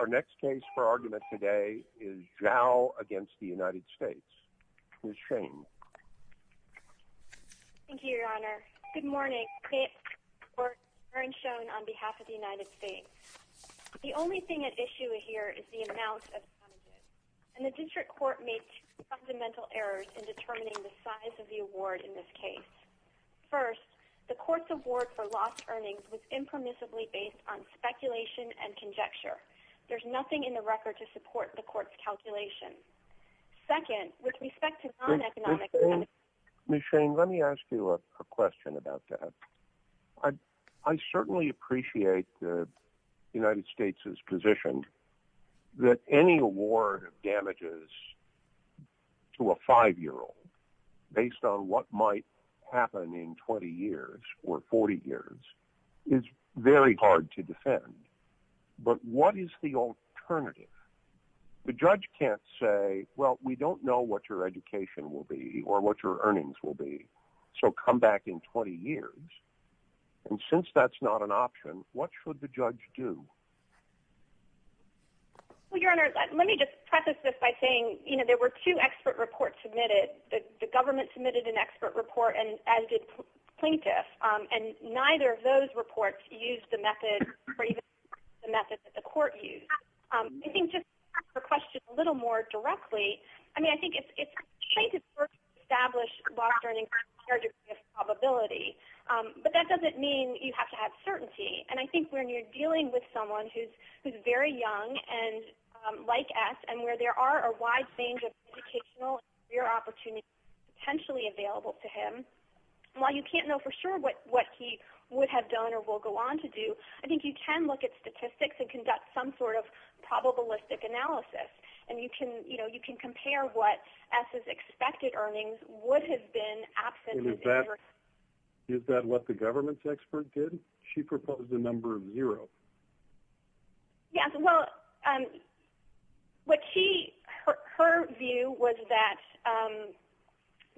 Our next case for argument today is Zhao v. United States. Ms. Shane. Thank you, Your Honor. Good morning. Today's reports are shown on behalf of the United States. The only thing at issue here is the amount of damages, and the district court made two fundamental errors in determining the size of the award in this case. First, the court's award for lost earnings was impermissibly based on speculation and conjecture. There's nothing in the record to support the court's calculation. Second, with respect to non-economic... Ms. Shane, let me ask you a question about that. I certainly appreciate the United States' position that any award of damages to a five-year-old based on what might happen in 20 years or 40 years is very hard to defend. But what is the alternative? The judge can't say, well, we don't know what your education will be or what your earnings will be, so come back in 20 years. And since that's not an option, what should the judge do? Well, Your Honor, let me just preface this by saying, you know, there were two expert reports submitted. The government submitted an expert report, as did plaintiffs, and neither of those reports used the method or even the method that the court used. I think just to answer your question a little more directly, I mean, I think it's great to establish lost earnings with a fair degree of probability, but that doesn't mean you have to have certainty. And I think when you're dealing with someone who's very young and like us and where there are a wide range of educational and career opportunities potentially available to him, while you can't know for sure what he would have done or will go on to do, I think you can look at statistics and conduct some sort of probabilistic analysis. And, you know, you can compare what S's expected earnings would have been absent. Is that what the government's expert did? She proposed a number of zeroes. Yes, well, what she, her view was that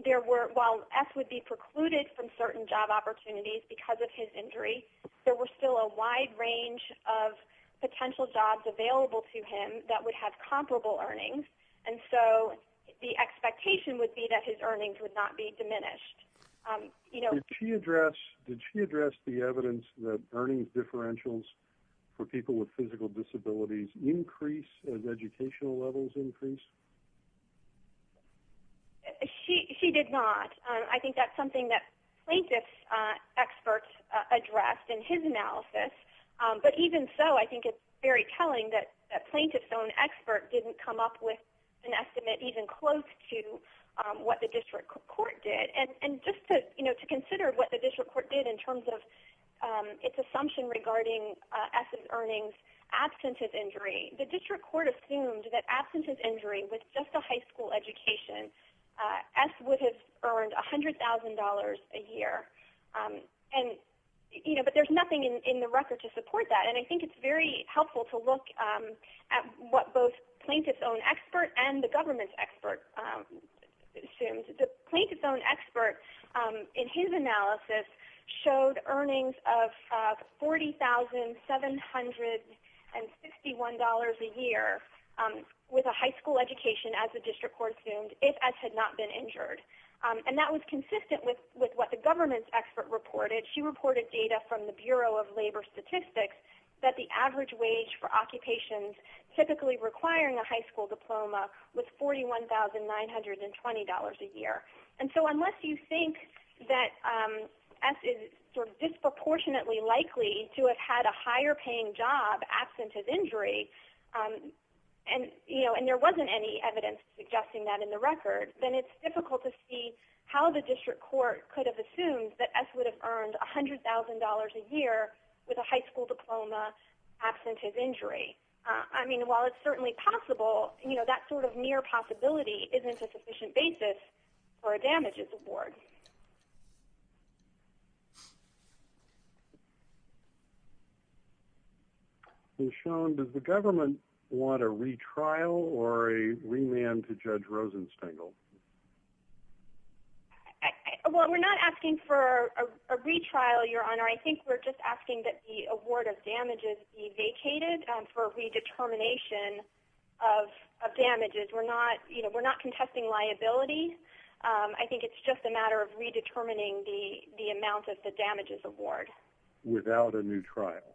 there were, while S would be precluded from certain job opportunities because of his injury, there were still a wide range of potential jobs available to him that would have comparable earnings. And so the expectation would be that his earnings would not be diminished. Did she address the evidence that earnings differentials for people with physical disabilities increase as educational levels increase? She did not. I think that's something that plaintiff's experts addressed in his analysis. But even so, I think it's very telling that a plaintiff's own expert didn't come up with an estimate that was even close to what the district court did. And just to consider what the district court did in terms of its assumption regarding S's earnings absent of injury, the district court assumed that absent of injury with just a high school education, S would have earned $100,000 a year. And, you know, but there's nothing in the record to support that. And I think it's very helpful to look at what both plaintiff's own expert and the government's expert assumed. The plaintiff's own expert in his analysis showed earnings of $40,751 a year with a high school education, as the district court assumed, if S had not been injured. And that was consistent with what the government's expert reported. She reported data from the Bureau of Labor Statistics that the average wage for occupations typically requiring a high school diploma was $41,920 a year. And so unless you think that S is disproportionately likely to have had a higher paying job absent of injury, and there wasn't any evidence suggesting that in the record, then it's difficult to see how the district court could have assumed that S would have earned $100,000 a year with a high school diploma absent of injury. I mean, while it's certainly possible, you know, that sort of near possibility isn't a sufficient basis for a damages award. Okay. And Sean, does the government want a retrial or a remand to Judge Rosenstengel? Well, we're not asking for a retrial, Your Honor. I think we're just asking that the award of damages be vacated for redetermination of damages. We're not, you know, we're not contesting liability. I think it's just a matter of redetermining the amount of the damages award. Without a new trial,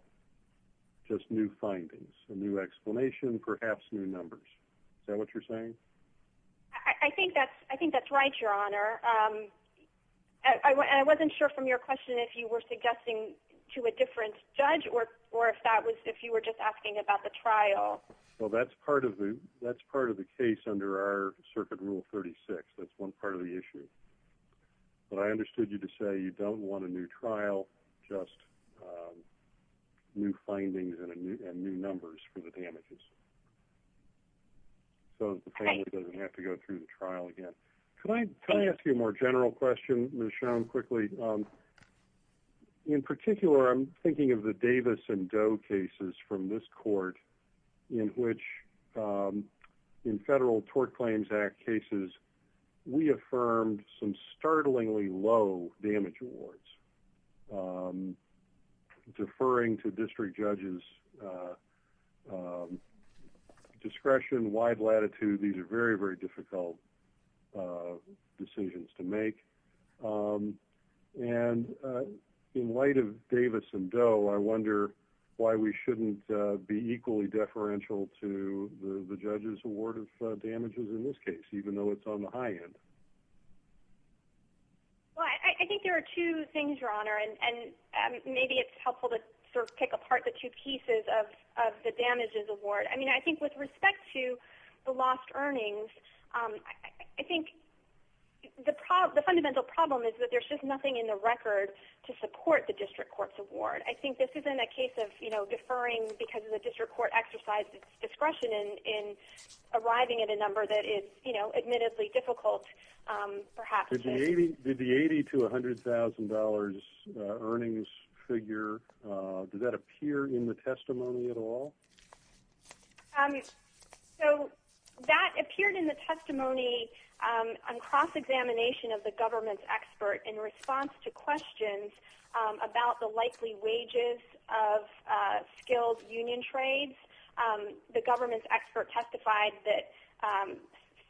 just new findings, a new explanation, perhaps new numbers. Is that what you're saying? I think that's right, Your Honor. I wasn't sure from your question if you were suggesting to a different judge or if that was if you were just asking about the trial. Well, that's part of the case under our Circuit Rule 36. That's one part of the issue. But I understood you to say you don't want a new trial, just new findings and new numbers for the damages. So the family doesn't have to go through the trial again. Can I ask you a more general question, Ms. Schoen, quickly? In particular, I'm thinking of the Davis and Doe cases from this court in which in Federal Tort Claims Act cases, we affirmed some startlingly low damage awards. Deferring to district judges' discretion, wide latitude, these are very, very difficult decisions to make. And in light of Davis and Doe, I wonder why we shouldn't be equally deferential to the judges' award of damages in this case, even though it's on the high end. Well, I think there are two things, Your Honor. And maybe it's helpful to sort of pick apart the two pieces of the damages award. I mean, I think with respect to the lost earnings, I think the fundamental problem is that there's just nothing in the record to support the district court's award. I think this isn't a case of deferring because the district court exercised its discretion in arriving at a number that is admittedly difficult, perhaps. Did the $80,000 to $100,000 earnings figure, did that appear in the testimony at all? So that appeared in the testimony on cross-examination of the government's expert in response to questions about the likely wages of skilled union trades. The government's expert testified that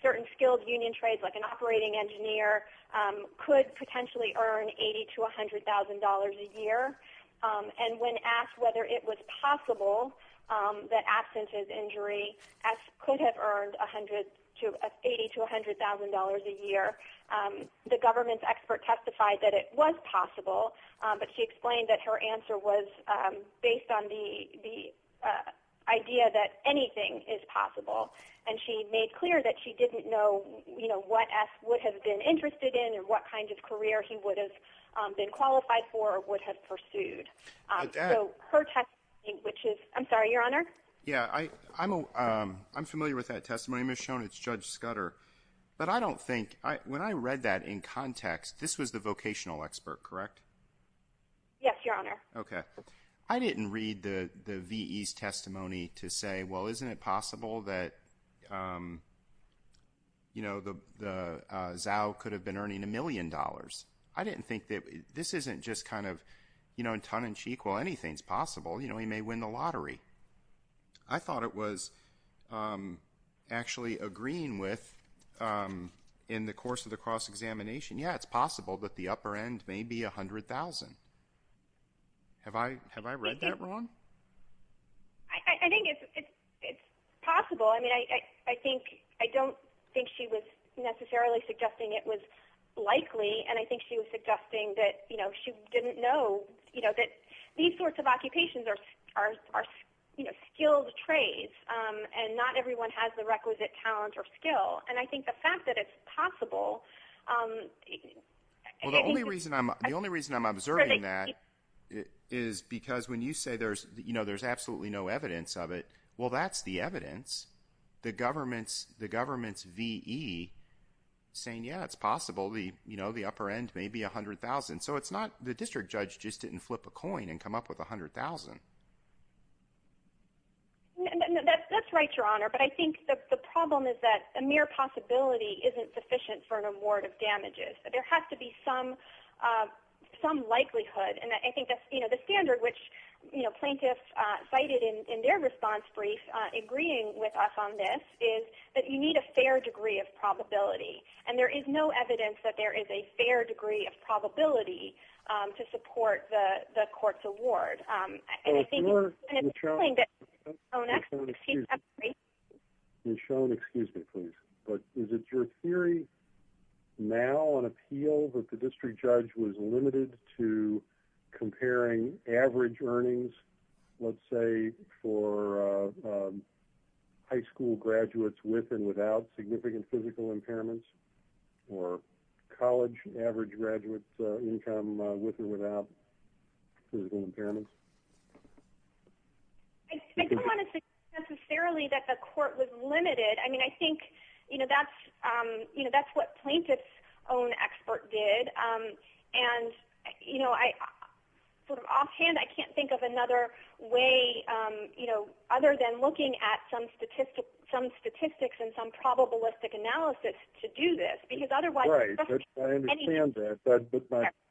certain skilled union trades, like an operating engineer, could potentially earn $80,000 to $100,000 a year. And when asked whether it was possible that absent his injury, S could have earned $80,000 to $100,000 a year. The government's expert testified that it was possible, but she explained that her answer was based on the idea that anything is possible. And she made clear that she didn't know, you know, what S would have been interested in or what kind of career he would have been qualified for or would have pursued. So her testimony, which is, I'm sorry, Your Honor? Yeah, I'm familiar with that testimony. I'm just showing it to Judge Scudder. But I don't think, when I read that in context, this was the vocational expert, correct? Yes, Your Honor. Okay. I didn't read the V.E.'s testimony to say, well, isn't it possible that, you know, the Zao could have been earning a million dollars? I didn't think that this isn't just kind of, you know, in tongue-in-cheek, well, anything's possible. You know, he may win the lottery. I thought it was actually agreeing with, in the course of the cross-examination, yeah, it's possible, but the upper end may be $100,000. Have I read that wrong? I think it's possible. I mean, I don't think she was necessarily suggesting it was likely, and I think she was suggesting that, you know, she didn't know that these sorts of occupations are skilled trades, and not everyone has the requisite talent or skill. And I think the fact that it's possible – Well, the only reason I'm observing that is because when you say, you know, there's absolutely no evidence of it, well, that's the evidence, the government's V.E. saying, yeah, it's possible, you know, the upper end may be $100,000. So it's not – the district judge just didn't flip a coin and come up with $100,000. That's right, Your Honor, but I think the problem is that a mere possibility isn't sufficient for an award of damages. There has to be some likelihood, and I think the standard which plaintiffs cited in their response brief agreeing with us on this is that you need a fair degree of probability, and there is no evidence that there is a fair degree of probability to support the court's award. Well, if you're – Oh, next, excuse me. Michonne, excuse me, please. But is it your theory now on appeal that the district judge was limited to comparing average earnings, let's say for high school graduates with and without significant physical impairments, or college average graduate income with or without physical impairments? I don't want to say necessarily that the court was limited. I mean, I think, you know, that's what plaintiffs' own expert did, and, you know, sort of offhand, I can't think of another way, you know, other than looking at some statistics and some probabilistic analysis to do this, because otherwise – Right, I understand that, but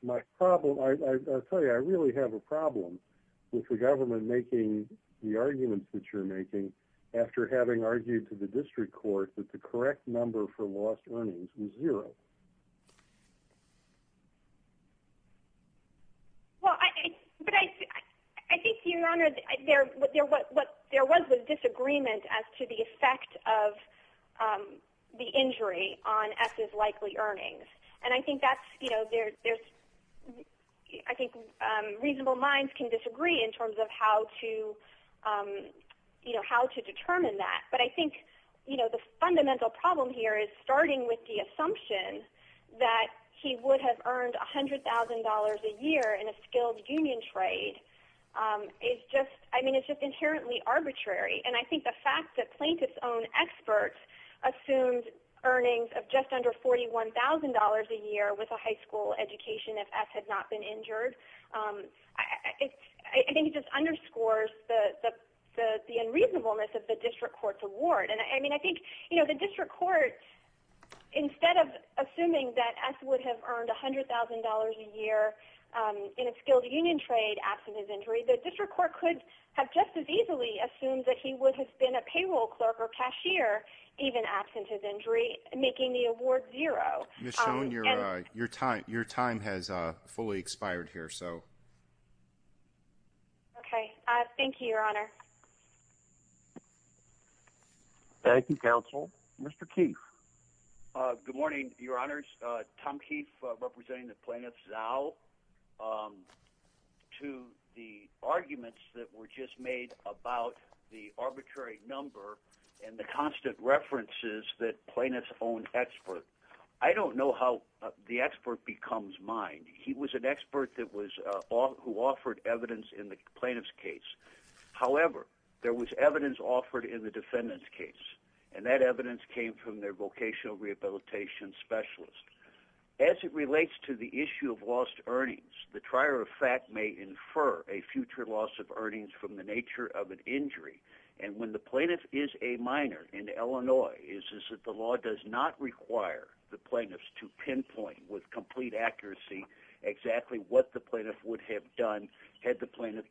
my problem – I'll tell you, I really have a problem with the government making the arguments that you're making after having argued to the district court that the correct number for lost earnings was zero. Well, I – but I think, Your Honor, there was a disagreement as to the effect of the injury on S's likely earnings. And I think that's, you know, there's – I think reasonable minds can disagree in terms of how to, you know, how to determine that. But I think, you know, the fundamental problem here is starting with the assumption that he would have earned $100,000 a year in a skilled union trade is just – I mean, it's just inherently arbitrary. And I think the fact that plaintiffs' own experts assumed earnings of just under $41,000 a year with a high school education if S had not been injured, I think it just underscores the unreasonableness of the district court's award. And I mean, I think, you know, the district court, instead of assuming that S would have earned $100,000 a year in a skilled union trade absent his injury, the district court could have just as easily assumed that he would have been a payroll clerk or cashier even absent his injury, making the award zero. Ms. Schoen, your time has fully expired here, so. Okay. Thank you, Your Honor. Thank you, counsel. Mr. Keefe. Good morning, Your Honors. Tom Keefe representing the plaintiffs now. To the arguments that were just made about the arbitrary number and the constant references that plaintiffs' own experts, I don't know how the expert becomes mine. He was an expert who offered evidence in the plaintiff's case. However, there was evidence offered in the defendant's case, and that evidence came from their vocational rehabilitation specialist. As it relates to the issue of lost earnings, the trier of fact may infer a future loss of earnings from the nature of an injury. And when the plaintiff is a minor in Illinois, the law does not require the plaintiffs to pinpoint with complete accuracy exactly what the plaintiff would have done had the plaintiff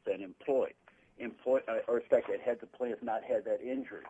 not had that injury.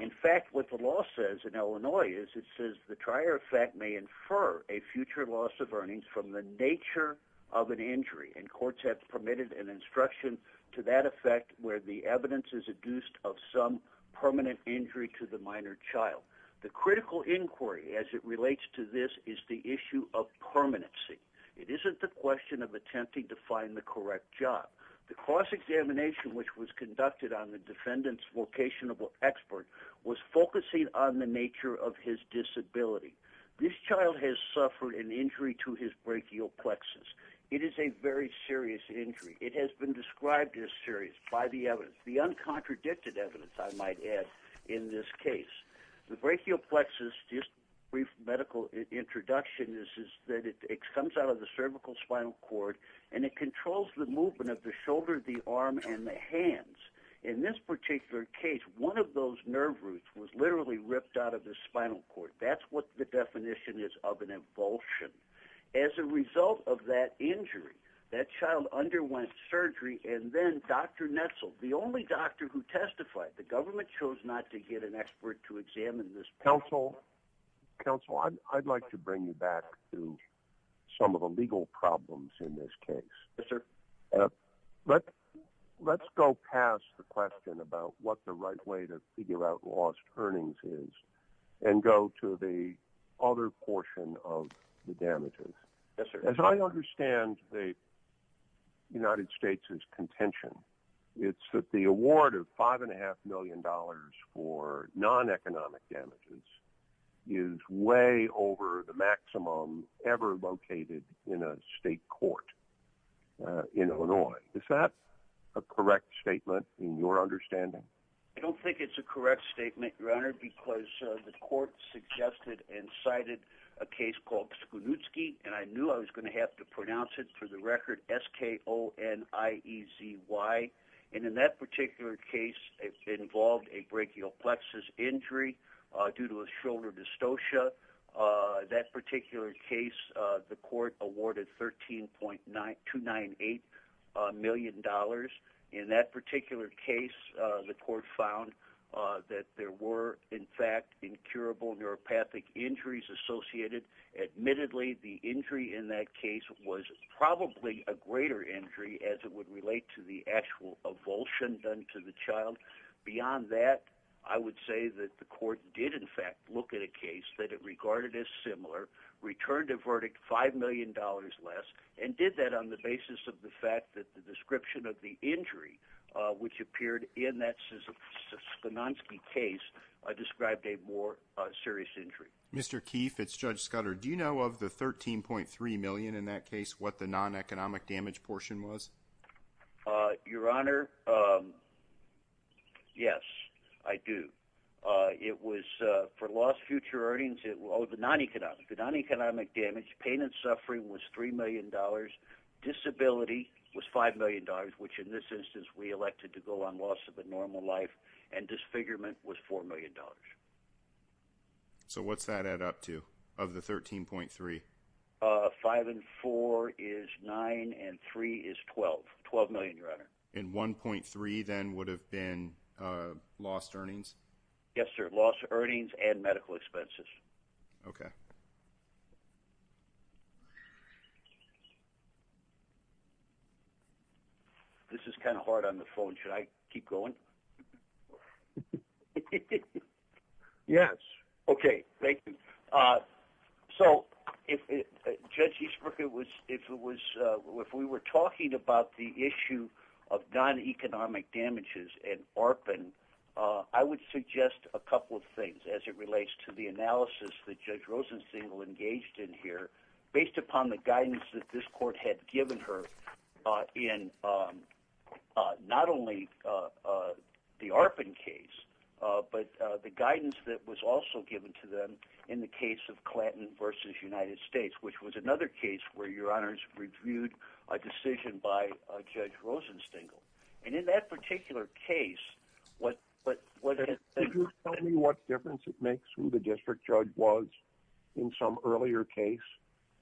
In fact, what the law says in Illinois is it says the trier of fact may infer a future loss of earnings from the nature of an injury. And courts have permitted an instruction to that effect where the evidence is adduced of some permanent injury to the minor child. The critical inquiry as it relates to this is the issue of permanency. It isn't the question of attempting to find the correct job. The cross-examination which was conducted on the defendant's vocational expert was focusing on the nature of his disability. This child has suffered an injury to his brachial plexus. It is a very serious injury. It has been described as serious by the evidence, the uncontradicted evidence, I might add, in this case. The brachial plexus, just a brief medical introduction, is that it comes out of the cervical spinal cord, and it controls the movement of the shoulder, the arm, and the hands. In this particular case, one of those nerve roots was literally ripped out of the spinal cord. That's what the definition is of an avulsion. As a result of that injury, that child underwent surgery, and then Dr. Netzel, the only doctor who testified, the government chose not to get an expert to examine this. Counsel, I'd like to bring you back to some of the legal problems in this case. Yes, sir. Let's go past the question about what the right way to figure out lost earnings is and go to the other portion of the damages. Yes, sir. As I understand the United States' contention, it's that the award of $5.5 million for non-economic damages is way over the maximum ever located in a state court in Illinois. Is that a correct statement in your understanding? I don't think it's a correct statement, Your Honor, because the court suggested and cited a case called Skoniewski, and I knew I was going to have to pronounce it for the record, S-K-O-N-I-E-Z-Y. And in that particular case, it involved a brachial plexus injury due to a shoulder dystocia. That particular case, the court awarded $13.298 million. In that particular case, the court found that there were, in fact, incurable neuropathic injuries associated. Admittedly, the injury in that case was probably a greater injury as it would relate to the actual avulsion done to the child. Beyond that, I would say that the court did, in fact, look at a case that it regarded as similar, returned the verdict $5 million less, and did that on the basis of the fact that the description of the injury, which appeared in that Skoniewski case, described a more serious injury. Mr. Keefe, it's Judge Scudder. Do you know of the $13.3 million in that case, what the non-economic damage portion was? Your Honor, yes, I do. It was for lost future earnings, the non-economic damage, pain and suffering was $3 million, disability was $5 million, which in this instance we elected to go on loss of a normal life, and disfigurement was $4 million. So what's that add up to, of the $13.3 million? $5 million and $4 million is $9 million, and $3 million is $12 million, Your Honor. And $1.3 million then would have been lost earnings? Yes, sir, lost earnings and medical expenses. Okay. This is kind of hard on the phone. Should I keep going? Yes. Okay, thank you. So if Judge Eastbrook, if we were talking about the issue of non-economic damages and ARPAN, I would suggest a couple of things as it relates to the analysis that Judge Rosenthal engaged in here, based upon the guidance that this court had given her in not only the ARPAN case, but the guidance that was also given to them in the case of Clanton v. United States, which was another case where, Your Honors, reviewed a decision by Judge Rosenstengel. And in that particular case, what – Could you tell me what difference it makes who the district judge was in some earlier case?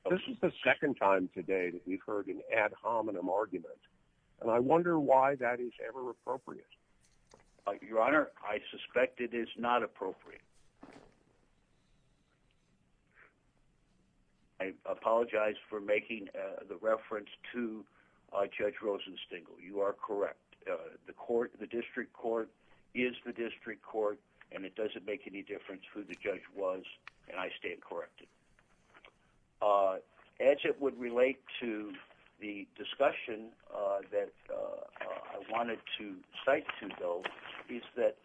This is the second time today that we've heard an ad hominem argument, and I wonder why that is ever appropriate. Your Honor, I suspect it is not appropriate. I apologize for making the reference to Judge Rosenstengel. You are correct. The court – the district court is the district court, and it doesn't make any difference who the judge was, and I stand corrected. As it would relate to the discussion that I wanted to cite to, though, is that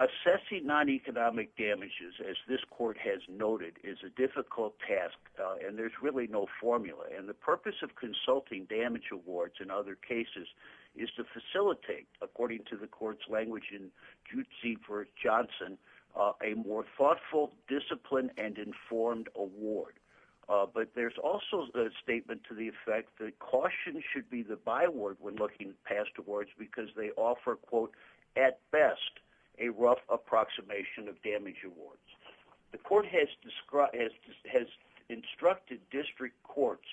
assessing non-economic damages, as this court has noted, is a difficult task, and there's really no formula. And the purpose of consulting damage awards in other cases is to facilitate, according to the court's language in Judzie v. Johnson, a more thoughtful, disciplined, and informed award. But there's also the statement to the effect that caution should be the byword when looking at past awards because they offer, quote, at best a rough approximation of damage awards. The court has instructed district courts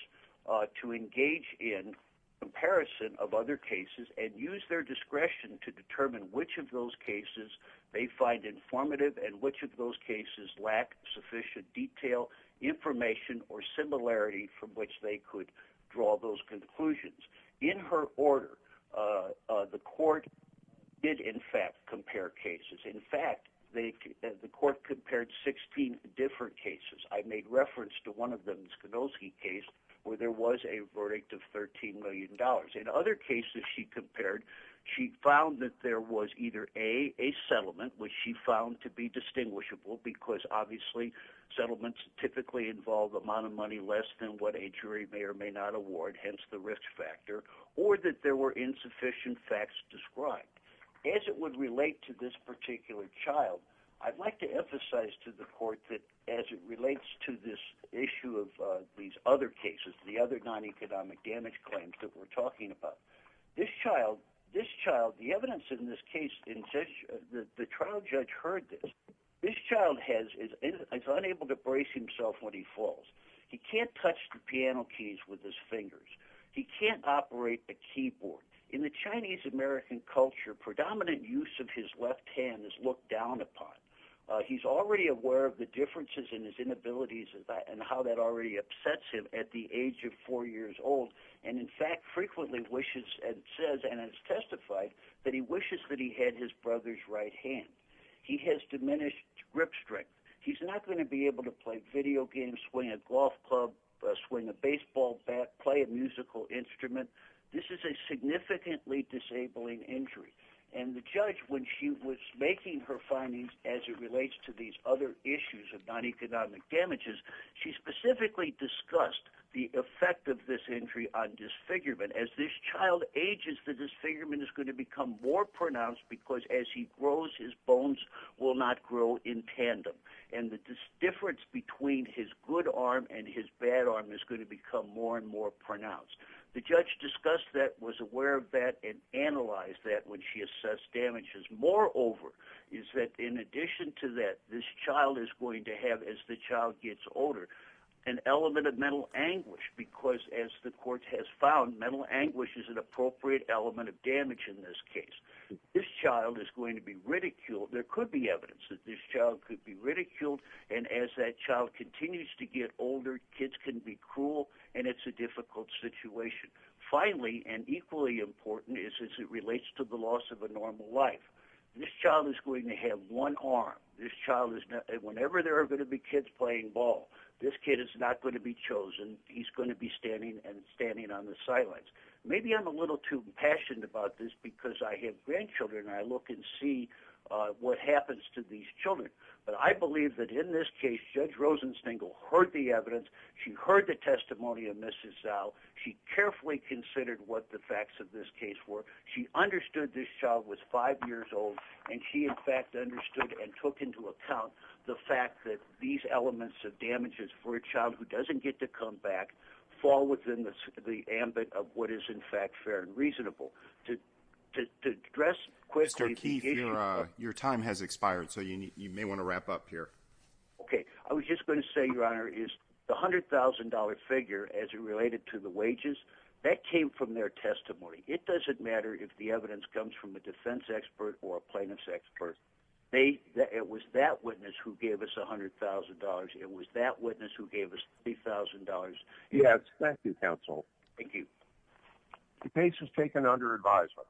to engage in comparison of other cases and use their discretion to determine which of those cases they find informative and which of those cases lack sufficient detail, information, or similarity from which they could draw those conclusions. In her order, the court did, in fact, compare cases. In fact, the court compared 16 different cases. I made reference to one of them, the Skidoski case, where there was a verdict of $13 million. In other cases she compared, she found that there was either, A, a settlement, which she found to be distinguishable because, obviously, settlements typically involve the amount of money less than what a jury may or may not award, hence the risk factor, or that there were insufficient facts described. As it would relate to this particular child, I'd like to emphasize to the court that as it relates to this issue of these other cases, the other non-economic damage claims that we're talking about, this child, the evidence in this case, the trial judge heard this. This child is unable to brace himself when he falls. He can't touch the piano keys with his fingers. He can't operate the keyboard. In the Chinese-American culture, predominant use of his left hand is looked down upon. He's already aware of the differences in his inabilities and how that already upsets him at the age of four years old, and in fact frequently wishes and says and has testified that he wishes that he had his brother's right hand. He has diminished grip strength. He's not going to be able to play video games, swing a golf club, swing a baseball bat, play a musical instrument. This is a significantly disabling injury. And the judge, when she was making her findings as it relates to these other issues of non-economic damages, she specifically discussed the effect of this injury on disfigurement. As this child ages, the disfigurement is going to become more pronounced because as he grows, his bones will not grow in tandem, and the difference between his good arm and his bad arm is going to become more and more pronounced. The judge discussed that, was aware of that, and analyzed that when she assessed damages. Moreover, is that in addition to that, this child is going to have, as the child gets older, an element of mental anguish because, as the court has found, mental anguish is an appropriate element of damage in this case. This child is going to be ridiculed. There could be evidence that this child could be ridiculed, and as that child continues to get older, kids can be cruel, and it's a difficult situation. Finally, and equally important, is as it relates to the loss of a normal life. This child is going to have one arm. Whenever there are going to be kids playing ball, this kid is not going to be chosen. He's going to be standing and standing on the sidelines. Maybe I'm a little too passionate about this because I have grandchildren, and I look and see what happens to these children. But I believe that in this case, Judge Rosenstengel heard the evidence. She heard the testimony of Mrs. Zell. She carefully considered what the facts of this case were. She understood this child was 5 years old, and she, in fact, understood and took into account the fact that these elements of damages for a child who doesn't get to come back fall within the ambit of what is, in fact, fair and reasonable. Mr. Keefe, your time has expired, so you may want to wrap up here. Okay. I was just going to say, Your Honor, is the $100,000 figure as it related to the wages, that came from their testimony. It doesn't matter if the evidence comes from a defense expert or a plaintiff's expert. It was that witness who gave us $100,000. It was that witness who gave us $3,000. Yes. Thank you, counsel. Thank you. The case is taken under advisory.